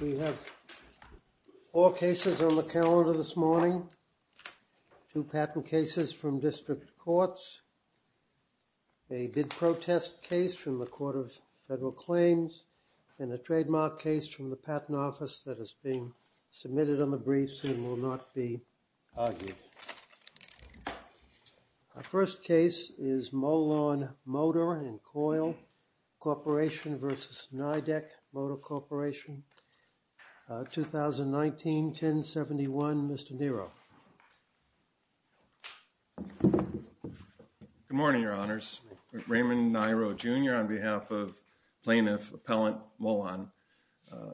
We have four cases on the calendar this morning. Two patent cases from district courts, a bid protest case from the Court of Federal Claims, and a trademark case from the Patent Office that is being submitted on the briefs and will not be argued. Our first case is Molon Motor and Coil Corporation v. Nidec Motor Corporation, 2019-1071. Mr. Nero. Good morning, Your Honors. Raymond Nero, Jr. on behalf of Plaintiff Appellant Molon.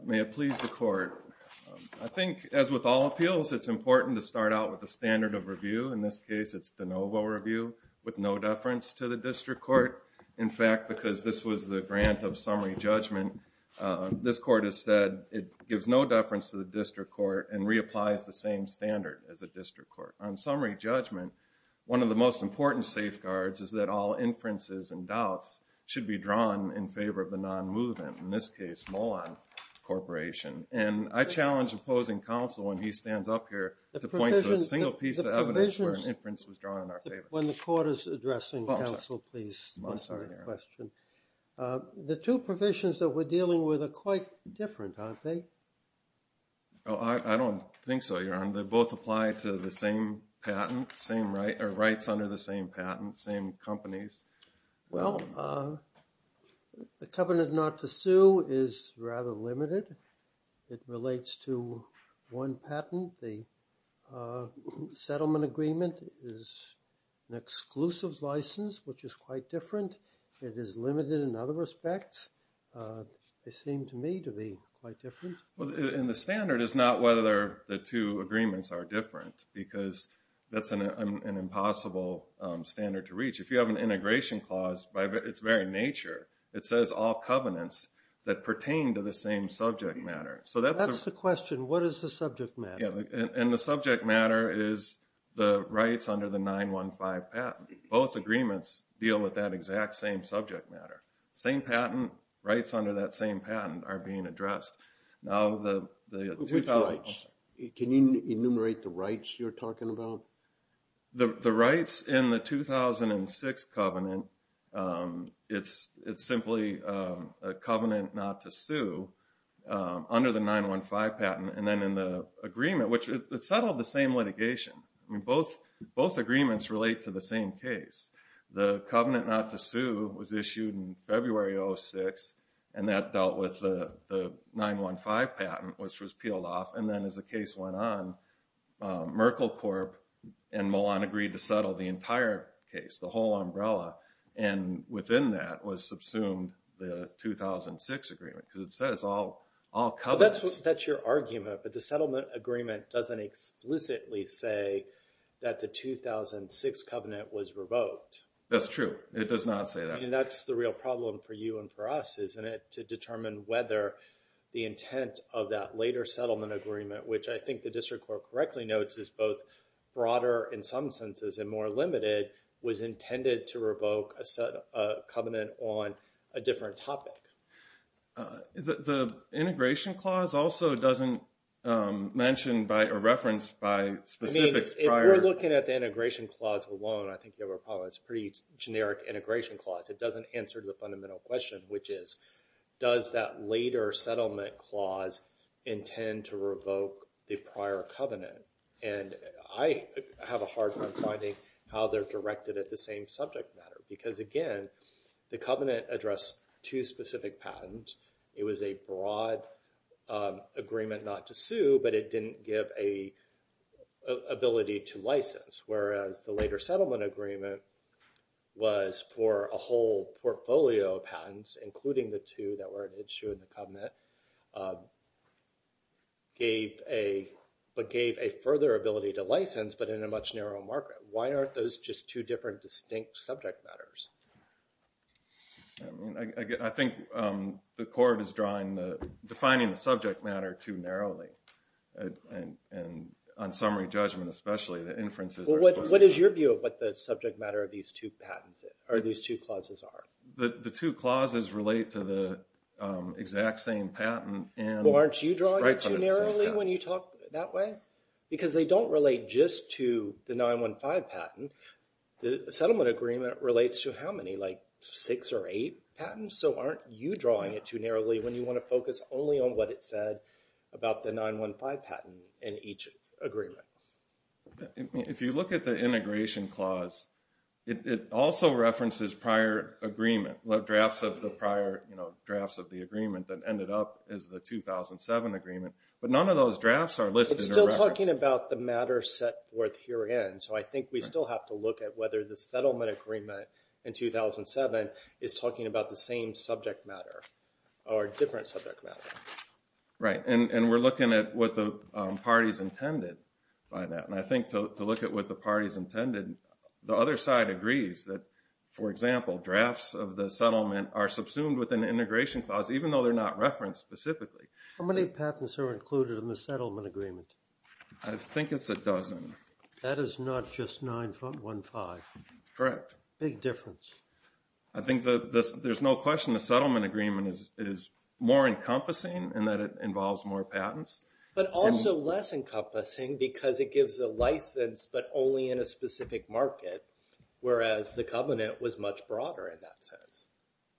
May it please the Court. I think, as with all appeals, it's important to start out with a standard of review. In this case, it's de novo review with no deference to the district court. In fact, because this was the grant of summary judgment, this court has said it gives no deference to the district court and reapplies the same standard as a district court. On summary judgment, one of the most important safeguards is that all inferences and doubts should be drawn in favor of the non-movement, in this case, Molon Corporation. And I challenge opposing counsel when he stands up here to point to a single piece of evidence where an inference was drawn in our favor. When the court is addressing counsel, please. I'm sorry, Your Honor. The two provisions that we're dealing with are quite different, aren't they? I don't think so, Your Honor. They both apply to the same patent, same rights under the same patent, same companies. Well, the covenant not to sue is rather limited. It relates to one patent. The settlement agreement is an exclusive license, which is quite different. It is limited in other respects. They seem to me to be quite different. And the standard is not whether the two agreements are different because that's an impossible standard to reach. If you have an integration clause, by its very nature, it says all covenants that pertain to the same subject matter. That's the question. What is the subject matter? And the subject matter is the rights under the 915 patent. Both agreements deal with that exact same subject matter. Same patent, rights under that same patent are being addressed. Which rights? Can you enumerate the rights you're talking about? The rights in the 2006 covenant, it's simply a covenant not to sue under the 915 patent. And then in the agreement, which it settled the same litigation. Both agreements relate to the same case. The covenant not to sue was issued in February of 2006, and that dealt with the 915 patent, which was peeled off. And then as the case went on, Merkle Corp. and Milan agreed to settle the entire case, the whole umbrella. And within that was subsumed the 2006 agreement because it says all covenants. That's your argument, but the settlement agreement doesn't explicitly say that the 2006 covenant was revoked. That's true. It does not say that. And that's the real problem for you and for us, isn't it, to determine whether the intent of that later settlement agreement, which I think the district court correctly notes is both broader in some senses and more limited, was intended to revoke a covenant on a different topic. The integration clause also doesn't mention or reference by specifics prior. We're looking at the integration clause alone. I think there were problems. It's a pretty generic integration clause. It doesn't answer the fundamental question, which is, does that later settlement clause intend to revoke the prior covenant? And I have a hard time finding how they're directed at the same subject matter because, again, the covenant addressed two specific patents. It was a broad agreement not to sue, but it didn't give an ability to license, whereas the later settlement agreement was for a whole portfolio of patents, including the two that were an issue in the covenant, but gave a further ability to license but in a much narrower market. Why aren't those just two different distinct subject matters? I think the court is defining the subject matter too narrowly, and on summary judgment especially. What is your view of what the subject matter of these two clauses are? The two clauses relate to the exact same patent. Well, aren't you drawing it too narrowly when you talk that way? Because they don't relate just to the 915 patent. The settlement agreement relates to how many, like six or eight patents? So aren't you drawing it too narrowly when you want to focus only on what it said about the 915 patent in each agreement? If you look at the integration clause, it also references prior agreement, the drafts of the prior drafts of the agreement that ended up as the 2007 agreement. But none of those drafts are listed or referenced. We're still talking about the matter set forth herein, so I think we still have to look at whether the settlement agreement in 2007 is talking about the same subject matter or a different subject matter. Right, and we're looking at what the parties intended by that. And I think to look at what the parties intended, the other side agrees that, for example, drafts of the settlement are subsumed with an integration clause, even though they're not referenced specifically. How many patents are included in the settlement agreement? I think it's a dozen. That is not just 915. Correct. Big difference. I think there's no question the settlement agreement is more encompassing in that it involves more patents. But also less encompassing because it gives a license but only in a specific market, whereas the covenant was much broader in that sense.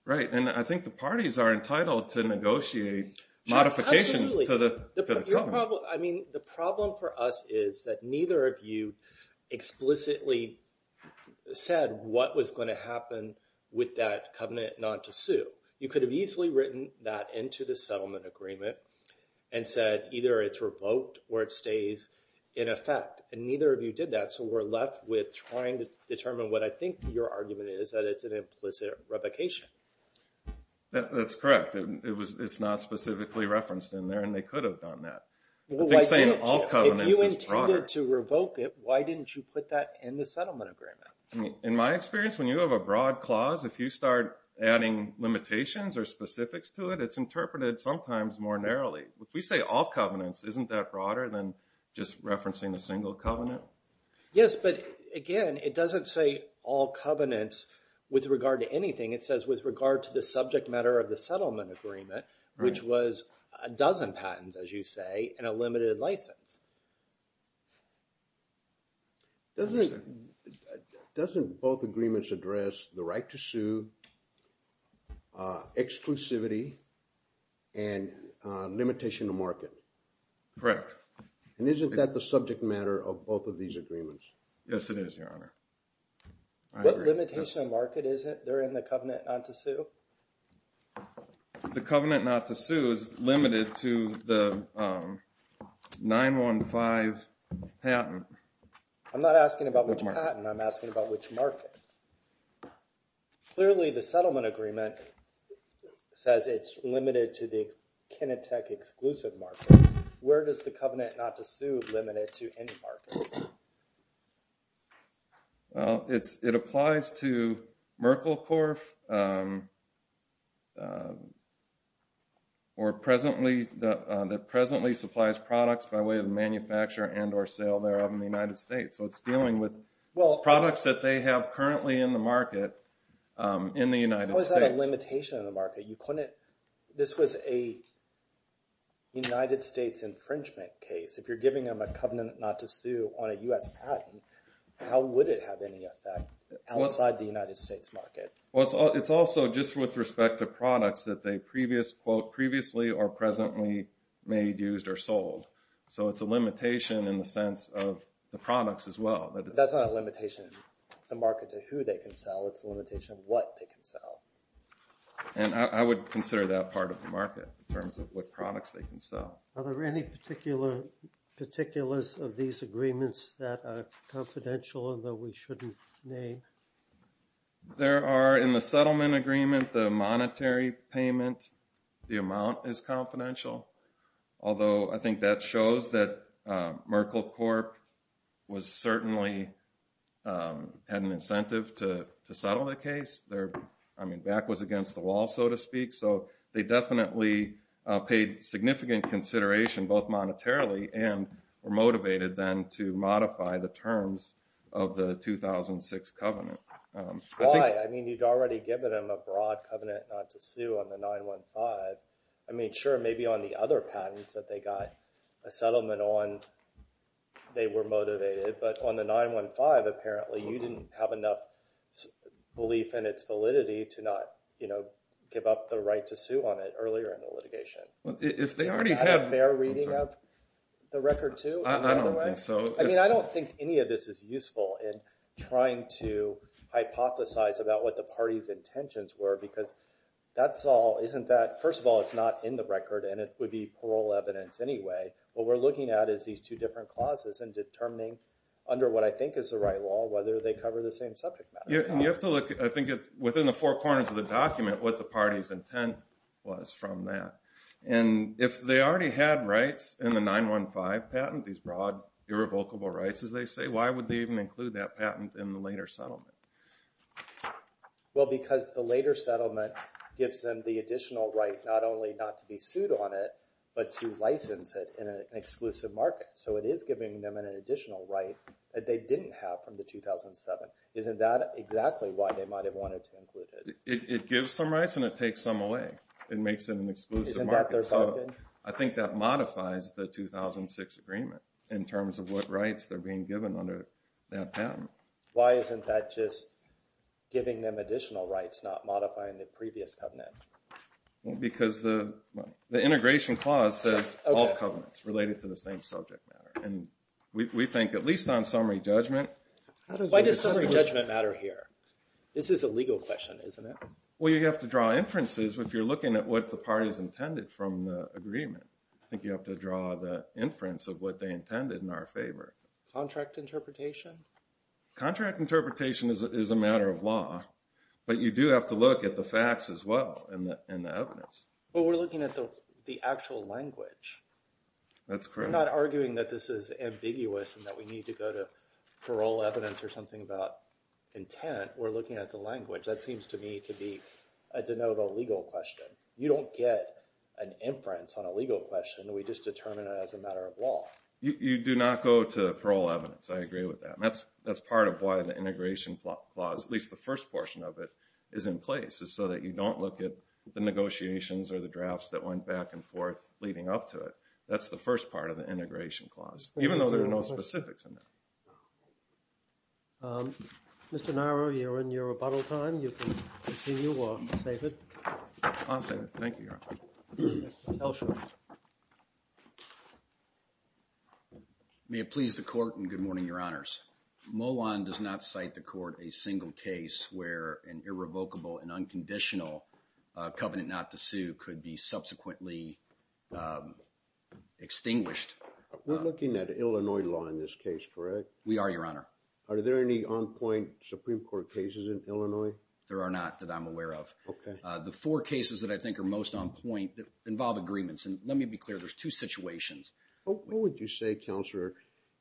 Right, and I think the parties are entitled to negotiate modifications to the covenant. I mean, the problem for us is that neither of you explicitly said what was going to happen with that covenant not to sue. You could have easily written that into the settlement agreement and said either it's revoked or it stays in effect, and neither of you did that, so we're left with trying to determine what I think your argument is, that it's an implicit revocation. That's correct. It's not specifically referenced in there, and they could have done that. I think saying all covenants is broader. If you intended to revoke it, why didn't you put that in the settlement agreement? In my experience, when you have a broad clause, if you start adding limitations or specifics to it, it's interpreted sometimes more narrowly. If we say all covenants, isn't that broader than just referencing a single covenant? Yes, but, again, it doesn't say all covenants with regard to anything. It says with regard to the subject matter of the settlement agreement, which was a dozen patents, as you say, and a limited license. Doesn't both agreements address the right to sue, exclusivity, and limitation of market? Correct. And isn't that the subject matter of both of these agreements? Yes, it is, Your Honor. What limitation of market is it there in the covenant not to sue? The covenant not to sue is limited to the 915 patent. I'm not asking about which patent. I'm asking about which market. Clearly, the settlement agreement says it's limited to the Kinetec exclusive market. Where does the covenant not to sue limit it to any market? Well, it applies to Merkle Corp. or presently supplies products by way of manufacture and or sale thereof in the United States. So it's dealing with products that they have currently in the market in the United States. How is that a limitation of the market? This was a United States infringement case. If you're giving them a covenant not to sue on a U.S. patent, how would it have any effect outside the United States market? Well, it's also just with respect to products that they previously or presently made, used, or sold. So it's a limitation in the sense of the products as well. That's not a limitation of the market to who they can sell. It's a limitation of what they can sell. And I would consider that part of the market in terms of what products they can sell. Are there any particulars of these agreements that are confidential and that we shouldn't name? There are in the settlement agreement, the monetary payment, the amount is confidential. Although I think that shows that Merkle Corp. certainly had an incentive to settle the case. I mean, back was against the wall, so to speak. So they definitely paid significant consideration both monetarily and were motivated then to modify the terms of the 2006 covenant. Why? I mean, you'd already given them a broad covenant not to sue on the 915. I mean, sure, maybe on the other patents that they got a settlement on, they were motivated. But on the 915, apparently, you didn't have enough belief in its validity to not give up the right to sue on it earlier in the litigation. Is that a fair reading of the record, too? I don't think so. I mean, I don't think any of this is useful in trying to hypothesize about what the party's intentions were. Because that's all – first of all, it's not in the record, and it would be parole evidence anyway. What we're looking at is these two different clauses and determining under what I think is the right law whether they cover the same subject matter. And you have to look, I think, within the four corners of the document what the party's intent was from that. And if they already had rights in the 915 patent, these broad irrevocable rights, as they say, why would they even include that patent in the later settlement? Well, because the later settlement gives them the additional right not only not to be sued on it but to license it in an exclusive market. So it is giving them an additional right that they didn't have from the 2007. Isn't that exactly why they might have wanted to include it? It gives them rights and it takes some away. It makes it an exclusive market. Isn't that their bargain? I think that modifies the 2006 agreement in terms of what rights they're being given under that patent. Why isn't that just giving them additional rights, not modifying the previous covenant? Because the integration clause says all covenants related to the same subject matter. And we think at least on summary judgment. Why does summary judgment matter here? This is a legal question, isn't it? Well, you have to draw inferences if you're looking at what the party's intended from the agreement. I think you have to draw the inference of what they intended in our favor. Contract interpretation? Contract interpretation is a matter of law, but you do have to look at the facts as well and the evidence. But we're looking at the actual language. That's correct. We're not arguing that this is ambiguous and that we need to go to parole evidence or something about intent. We're looking at the language. That seems to me to be a de novo legal question. You don't get an inference on a legal question. We just determine it as a matter of law. You do not go to parole evidence. I agree with that. That's part of why the integration clause, at least the first portion of it, is in place. It's so that you don't look at the negotiations or the drafts that went back and forth leading up to it. That's the first part of the integration clause, even though there are no specifics in there. Mr. Narrow, you're in your rebuttal time. You can continue or save it. I'll save it. Thank you, Your Honor. Mr. Elsher. May it please the court and good morning, Your Honors. Molon does not cite the court a single case where an irrevocable and unconditional covenant not to sue could be subsequently extinguished. We're looking at Illinois law in this case, correct? We are, Your Honor. Are there any on-point Supreme Court cases in Illinois? There are not that I'm aware of. Okay. The four cases that I think are most on point involve agreements. And let me be clear, there's two situations. What would you say, Counselor,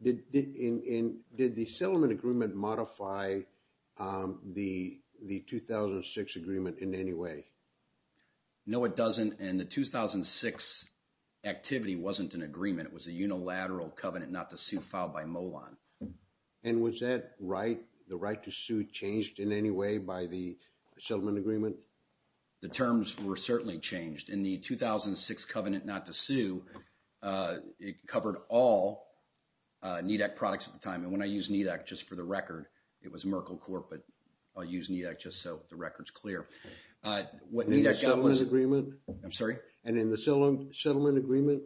did the settlement agreement modify the 2006 agreement in any way? No, it doesn't. And the 2006 activity wasn't an agreement. It was a unilateral covenant not to sue filed by Molon. And was that right, the right to sue, changed in any way by the settlement agreement? The terms were certainly changed. In the 2006 covenant not to sue, it covered all NEDAC products at the time. And when I use NEDAC just for the record, it was Merkle Corp, but I'll use NEDAC just so the record's clear. In the settlement agreement? I'm sorry? And in the settlement agreement?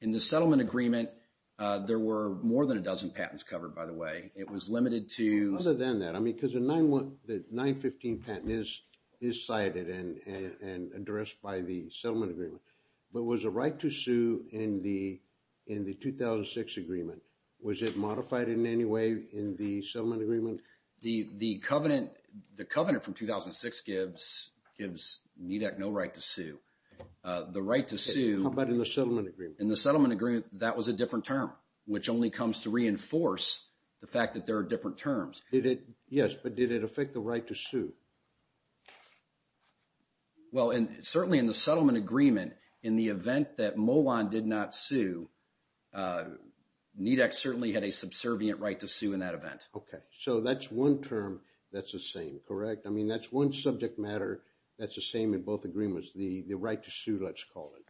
In the settlement agreement, there were more than a dozen patents covered, by the way. It was limited to— Other than that, I mean, because the 915 patent is cited and addressed by the settlement agreement. But was the right to sue in the 2006 agreement, was it modified in any way in the settlement agreement? The covenant from 2006 gives NEDAC no right to sue. The right to sue— How about in the settlement agreement? In the settlement agreement, that was a different term, which only comes to reinforce the fact that there are different terms. Yes, but did it affect the right to sue? Well, certainly in the settlement agreement, in the event that Molon did not sue, NEDAC certainly had a subservient right to sue in that event. Okay, so that's one term that's the same, correct? I mean, that's one subject matter that's the same in both agreements. The right to sue, let's call it.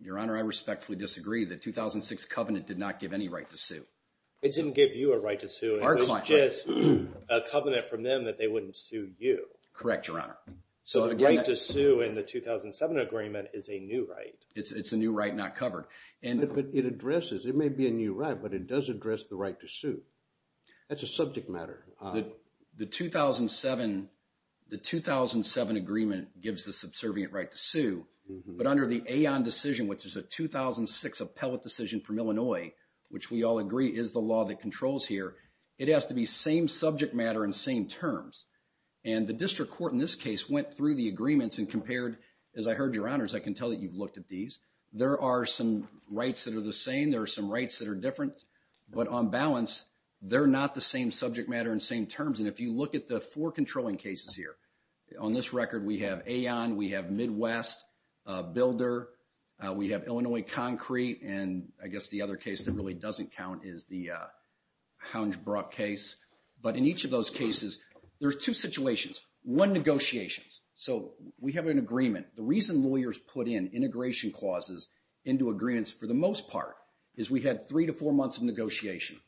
Your Honor, I respectfully disagree. The 2006 covenant did not give any right to sue. It didn't give you a right to sue. It was just a covenant from them that they wouldn't sue you. Correct, Your Honor. So the right to sue in the 2007 agreement is a new right. It's a new right not covered. But it addresses—it may be a new right, but it does address the right to sue. That's a subject matter. The 2007 agreement gives the subservient right to sue. But under the AON decision, which is a 2006 appellate decision from Illinois, which we all agree is the law that controls here, it has to be same subject matter and same terms. And the district court in this case went through the agreements and compared. As I heard, Your Honors, I can tell that you've looked at these. There are some rights that are the same. There are some rights that are different. But on balance, they're not the same subject matter and same terms. And if you look at the four controlling cases here, on this record we have AON. We have Midwest Builder. We have Illinois Concrete. And I guess the other case that really doesn't count is the Houngebrook case. But in each of those cases, there's two situations. One, negotiations. So we have an agreement. The reason lawyers put in integration clauses into agreements for the most part is we had three to four months of negotiation.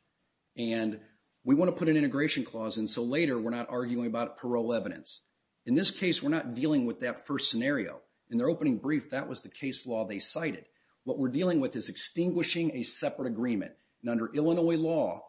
And we want to put an integration clause in so later we're not arguing about parole evidence. In this case, we're not dealing with that first scenario. In their opening brief, that was the case law they cited. What we're dealing with is extinguishing a separate agreement. And under Illinois law,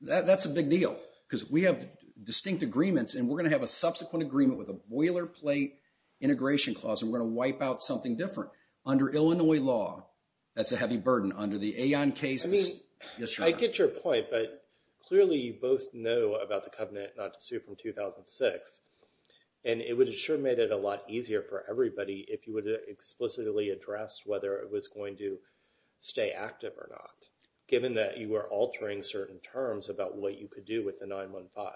that's a big deal. Because we have distinct agreements. And we're going to have a subsequent agreement with a boilerplate integration clause. And we're going to wipe out something different. Under Illinois law, that's a heavy burden. Under the AON case, it's not. I get your point. But clearly, you both know about the covenant not to sue from 2006. And it would have sure made it a lot easier for everybody if you would have explicitly addressed whether it was going to stay active or not. Given that you were altering certain terms about what you could do with the 9-1-5.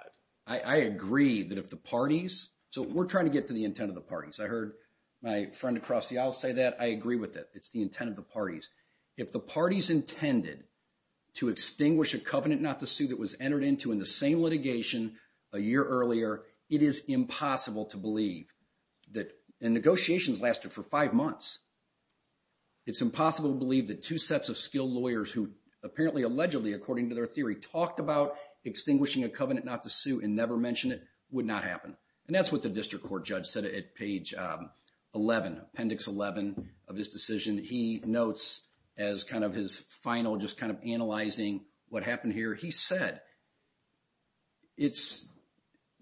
I agree that if the parties, so we're trying to get to the intent of the parties. I heard my friend across the aisle say that. I agree with it. It's the intent of the parties. If the parties intended to extinguish a covenant not to sue that was entered into in the same litigation a year earlier, it is impossible to believe. And negotiations lasted for five months. It's impossible to believe that two sets of skilled lawyers who apparently allegedly according to their theory talked about extinguishing a covenant not to sue and never mentioned it would not happen. And that's what the district court judge said at page 11, appendix 11 of his decision. He notes as kind of his final just kind of analyzing what happened here. He said it's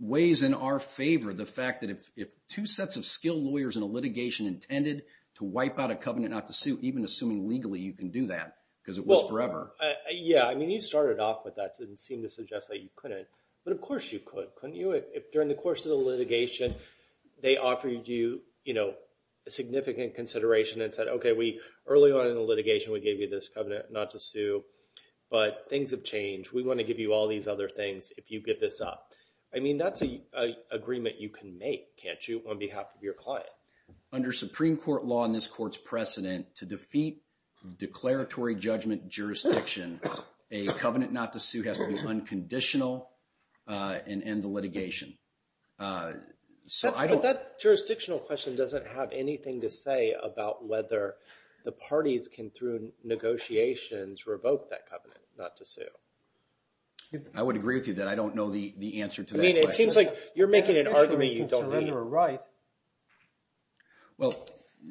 ways in our favor the fact that if two sets of skilled lawyers in a litigation intended to wipe out a covenant not to sue even assuming legally you can do that because it was forever. Yeah. I mean you started off with that and seemed to suggest that you couldn't. But of course you could. Couldn't you? During the course of the litigation they offered you a significant consideration and said okay early on in the litigation we gave you this covenant not to sue but things have changed. We want to give you all these other things if you give this up. I mean that's an agreement you can make, can't you, on behalf of your client. Under Supreme Court law and this court's precedent to defeat declaratory judgment jurisdiction a covenant not to sue has to be unconditional and end the litigation. But that jurisdictional question doesn't have anything to say about whether the parties can through negotiations revoke that covenant not to sue. I would agree with you that I don't know the answer to that question. I mean it seems like you're making an argument you don't need. Well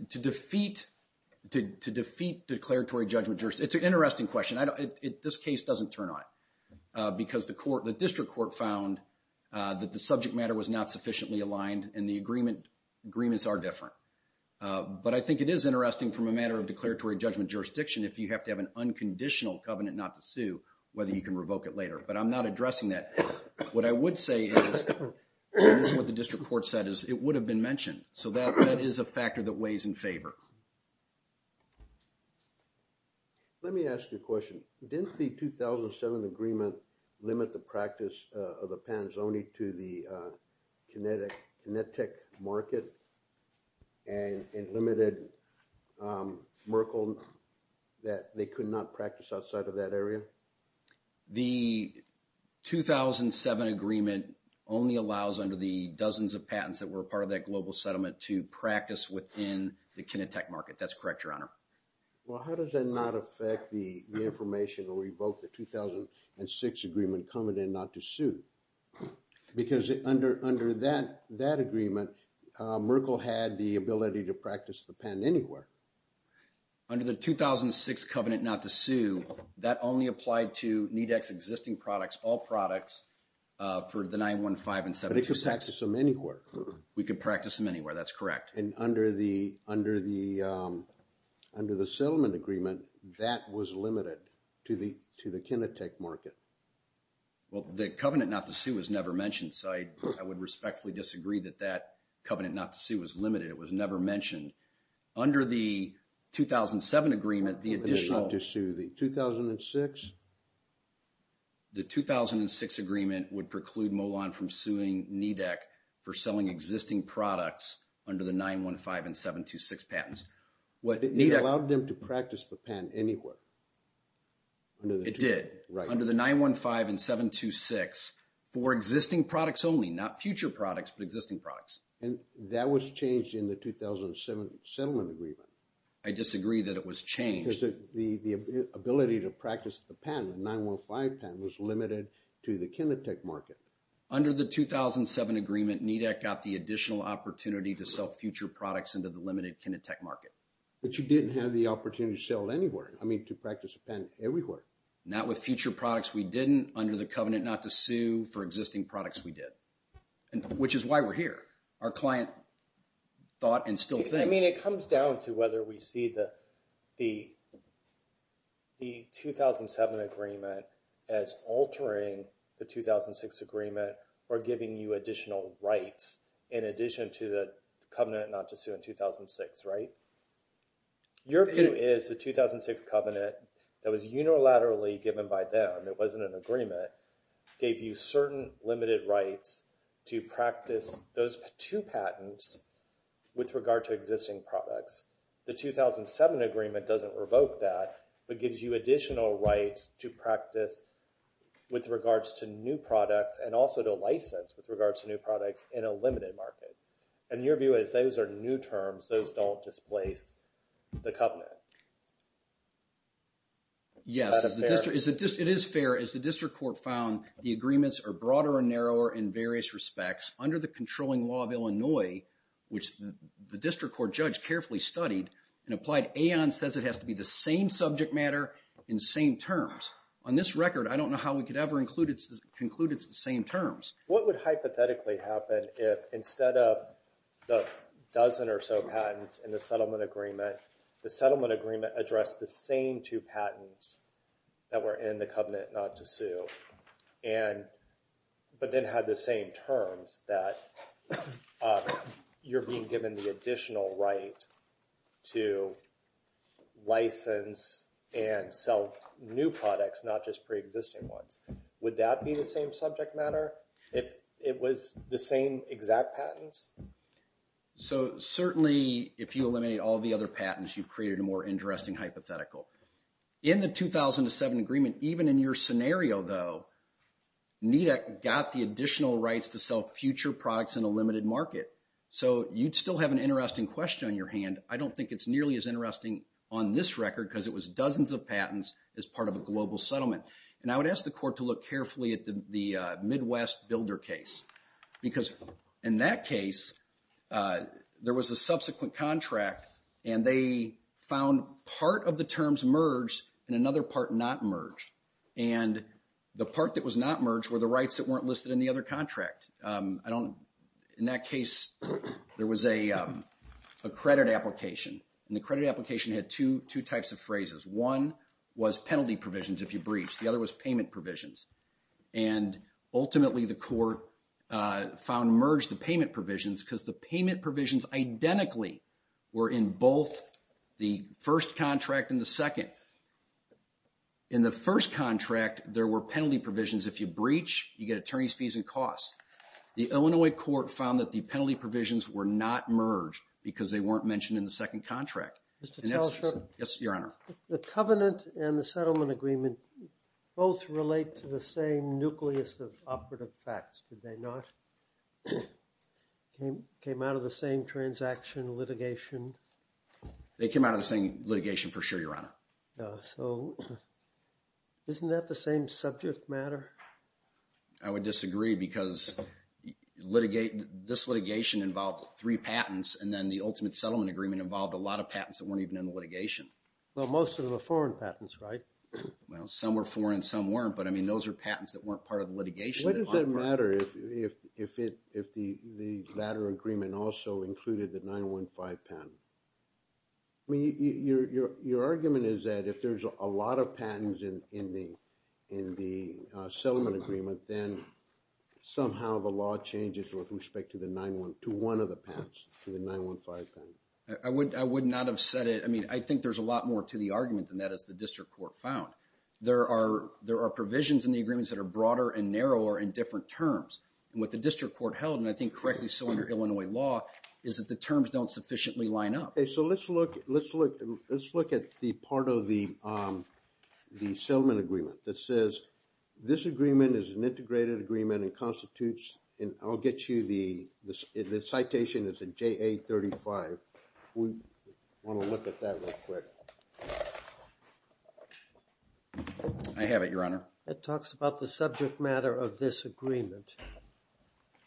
to defeat declaratory judgment jurisdiction, it's an interesting question. This case doesn't turn on it because the district court found that the subject matter was not sufficiently aligned and the agreements are different. But I think it is interesting from a matter of declaratory judgment jurisdiction if you have to have an unconditional covenant not to sue whether you can revoke it later. But I'm not addressing that. What I would say is, and this is what the district court said is, it would have been mentioned. So that is a factor that weighs in favor. Let me ask you a question. Didn't the 2007 agreement limit the practice of the panzoni to the kinetic market and limited Merkle that they could not practice outside of that area? The 2007 agreement only allows under the dozens of patents that were part of that global settlement to practice within the kinetic market. That's correct, your honor. Well, how does that not affect the information or revoke the 2006 agreement covenant not to sue? Because under that agreement, Merkle had the ability to practice the patent anywhere. Under the 2006 covenant not to sue, that only applied to NEDEX existing products, all products for the 915 and 726. But they could practice them anywhere. We could practice them anywhere. That's correct. And under the settlement agreement, that was limited to the kinetic market. Well, the covenant not to sue was never mentioned. So I would respectfully disagree that that covenant not to sue was limited. It was never mentioned. Under the 2007 agreement, the additional… Not to sue. The 2006? The 2006 agreement would preclude Molon from suing NEDEX for selling existing products under the 915 and 726 patents. It allowed them to practice the patent anywhere. It did. Right. Under the 915 and 726 for existing products only, not future products, but existing products. And that was changed in the 2007 settlement agreement. I disagree that it was changed. Because the ability to practice the patent, the 915 patent, was limited to the kinetic market. Under the 2007 agreement, NEDEX got the additional opportunity to sell future products into the limited kinetic market. But you didn't have the opportunity to sell anywhere. I mean, to practice a patent everywhere. Not with future products, we didn't. Under the covenant not to sue for existing products, we did. Which is why we're here. Our client thought and still thinks. I mean, it comes down to whether we see the 2007 agreement as altering the 2006 agreement or giving you additional rights in addition to the covenant not to sue in 2006, right? Your view is the 2006 covenant that was unilaterally given by them, it wasn't an agreement, gave you certain limited rights to practice those two patents with regard to existing products. The 2007 agreement doesn't revoke that, but gives you additional rights to practice with regards to new products and also to license with regards to new products in a limited market. And your view is those are new terms. Those don't displace the covenant. Yes, it is fair. As the district court found, the agreements are broader and narrower in various respects. Under the controlling law of Illinois, which the district court judge carefully studied and applied, AON says it has to be the same subject matter in the same terms. On this record, I don't know how we could ever conclude it's the same terms. What would hypothetically happen if instead of the dozen or so patents in the settlement agreement, the settlement agreement addressed the same two patents that were in the covenant not to sue, but then had the same terms that you're being given the additional right to license and sell new products, not just pre-existing ones. Would that be the same subject matter if it was the same exact patents? So certainly, if you eliminate all the other patents, you've created a more interesting hypothetical. In the 2007 agreement, even in your scenario, though, NEDAC got the additional rights to sell future products in a limited market. So you'd still have an interesting question on your hand. I don't think it's nearly as interesting on this record because it was dozens of patents as part of a global settlement. And I would ask the court to look carefully at the Midwest Builder case. Because in that case, there was a subsequent contract, and they found part of the terms merged and another part not merged. And the part that was not merged were the rights that weren't listed in the other contract. In that case, there was a credit application. And the credit application had two types of phrases. One was penalty provisions if you breached. The other was payment provisions. And ultimately, the court found merged the payment provisions because the payment provisions identically were in both the first contract and the second. In the first contract, there were penalty provisions. If you breach, you get attorney's fees and costs. The Illinois court found that the penalty provisions were not merged because they weren't mentioned in the second contract. Yes, Your Honor. The covenant and the settlement agreement both relate to the same nucleus of operative facts, did they not? Came out of the same transaction litigation? They came out of the same litigation for sure, Your Honor. So isn't that the same subject matter? I would disagree because this litigation involved three patents. And then the ultimate settlement agreement involved a lot of patents that weren't even in the litigation. Well, most of them are foreign patents, right? Well, some were foreign, some weren't. But I mean, those are patents that weren't part of the litigation. What does it matter if the latter agreement also included the 915 patent? I mean, your argument is that if there's a lot of patents in the settlement agreement, then somehow the law changes with respect to one of the patents, to the 915 patent. I would not have said it. I mean, I think there's a lot more to the argument than that, as the district court found. There are provisions in the agreements that are broader and narrower in different terms. And what the district court held, and I think correctly so under Illinois law, is that the terms don't sufficiently line up. Okay, so let's look at the part of the settlement agreement that says this agreement is an integrated agreement and constitutes, and I'll get you the, the citation is in JA35. We want to look at that real quick. I have it, your honor. It talks about the subject matter of this agreement.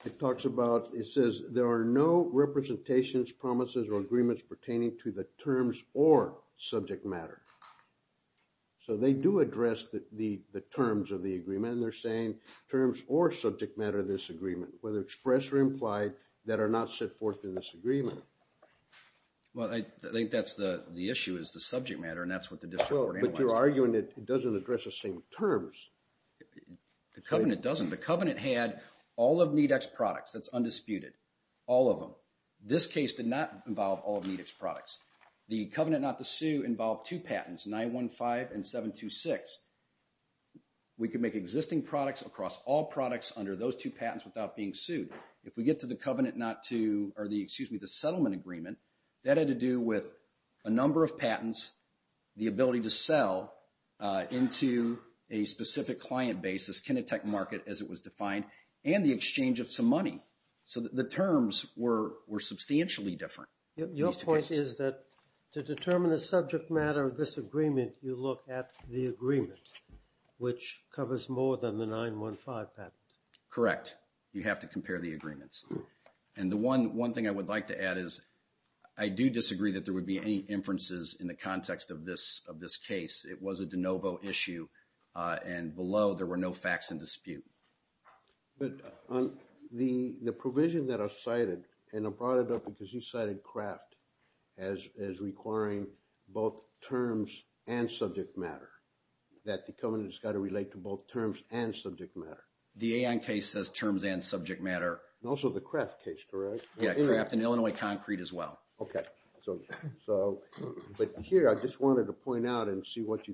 It talks about, it says there are no representations, promises, or agreements pertaining to the terms or subject matter. So they do address the terms of the agreement, and they're saying terms or subject matter of this agreement, whether expressed or implied, that are not set forth in this agreement. Well, I think that's the issue, is the subject matter, and that's what the district court analyzed. Well, but you're arguing it doesn't address the same terms. The covenant doesn't. The covenant had all of NEDX products. That's undisputed. All of them. So this case did not involve all of NEDX products. The covenant not to sue involved two patents, 915 and 726. We could make existing products across all products under those two patents without being sued. If we get to the covenant not to, or the, excuse me, the settlement agreement, that had to do with a number of patents, the ability to sell into a specific client base, this kinetec market as it was defined, and the exchange of some money. So the terms were substantially different. Your point is that to determine the subject matter of this agreement, you look at the agreement, which covers more than the 915 patent. Correct. You have to compare the agreements. And the one thing I would like to add is I do disagree that there would be any inferences in the context of this case. It was a de novo issue, and below there were no facts in dispute. But on the provision that I cited, and I brought it up because you cited Kraft as requiring both terms and subject matter, that the covenant has got to relate to both terms and subject matter. The AN case says terms and subject matter. And also the Kraft case, correct? Yeah, Kraft and Illinois Concrete as well. Okay. So, but here I just wanted to point out and see what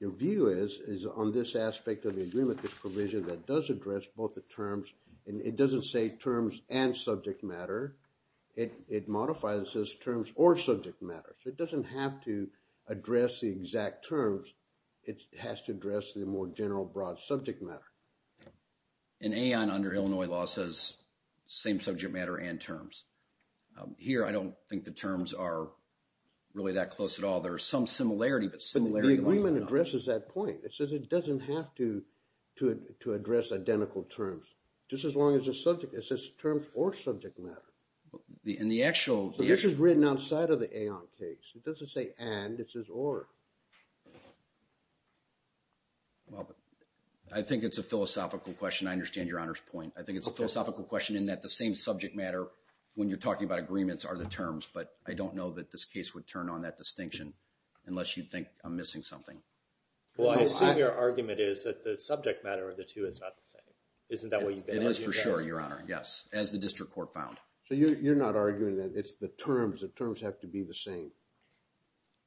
your view is on this aspect of the agreement, this provision that does address both the terms, and it doesn't say terms and subject matter. It modifies this terms or subject matter. It doesn't have to address the exact terms. It has to address the more general, broad subject matter. In AON, under Illinois law, it says same subject matter and terms. Here, I don't think the terms are really that close at all. There are some similarity, but similarities are not. But the agreement addresses that point. It says it doesn't have to address identical terms. Just as long as the subject, it says terms or subject matter. In the actual... But this is written outside of the AON case. It doesn't say and, it says or. Well, I think it's a philosophical question. I understand Your Honor's point. I think it's a philosophical question in that the same subject matter when you're talking about agreements are the terms. But I don't know that this case would turn on that distinction unless you think I'm missing something. Well, I see your argument is that the subject matter of the two is not the same. Isn't that what you've been arguing? It is for sure, Your Honor. Yes, as the district court found. So, you're not arguing that it's the terms. The terms have to be the same.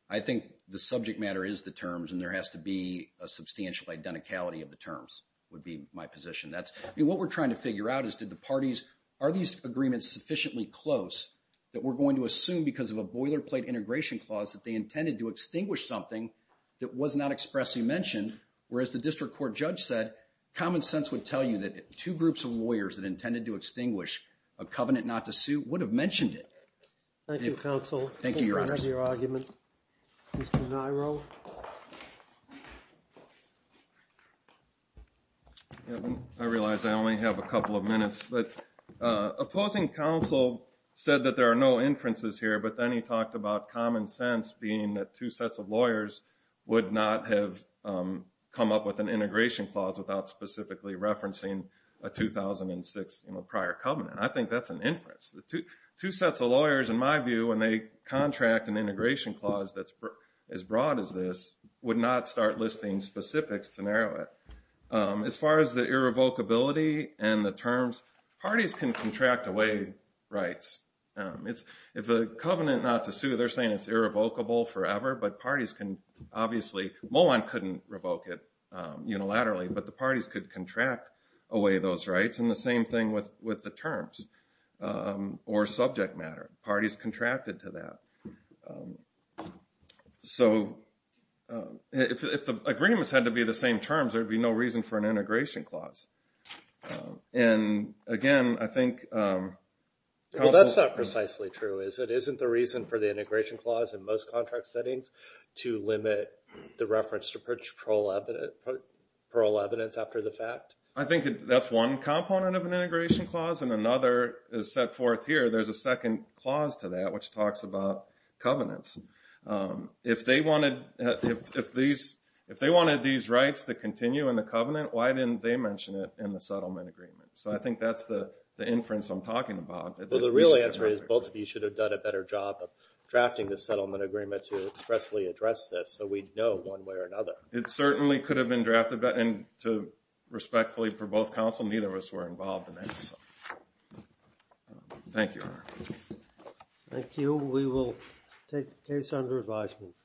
I think the subject matter is the terms and there has to be a substantial identicality of the terms would be my position. What we're trying to figure out is did the parties, are these agreements sufficiently close that we're going to assume because of a boilerplate integration clause that they intended to extinguish something that was not expressly mentioned, whereas the district court judge said common sense would tell you that two groups of lawyers that intended to extinguish a covenant not to sue would have mentioned it. Thank you, counsel. Thank you, Your Honor. Thank you for your argument, Mr. Niro. I realize I only have a couple of minutes, but opposing counsel said that there are no inferences here, but then he talked about common sense being that two sets of lawyers would not have come up with an integration clause without specifically referencing a 2006 prior covenant. I think that's an inference. Two sets of lawyers, in my view, when they contract an integration clause that's as broad as this, would not start listing specifics to narrow it. As far as the irrevocability and the terms, parties can contract away rights. If a covenant not to sue, they're saying it's irrevocable forever, but parties can obviously, Molon couldn't revoke it unilaterally, but the parties could contract away those rights, and the same thing with the terms. Or subject matter, parties contracted to that. So if the agreements had to be the same terms, there would be no reason for an integration clause. And, again, I think counsel... Well, that's not precisely true, is it? Isn't the reason for the integration clause in most contract settings to limit the reference to perch parole evidence after the fact? I think that's one component of an integration clause, and another is set forth here. There's a second clause to that which talks about covenants. If they wanted these rights to continue in the covenant, why didn't they mention it in the settlement agreement? So I think that's the inference I'm talking about. Well, the real answer is both of you should have done a better job of drafting the settlement agreement It certainly could have been drafted, and respectfully for both counsel, neither of us were involved in that. Thank you, Your Honor. Thank you. We will take the case under advisement.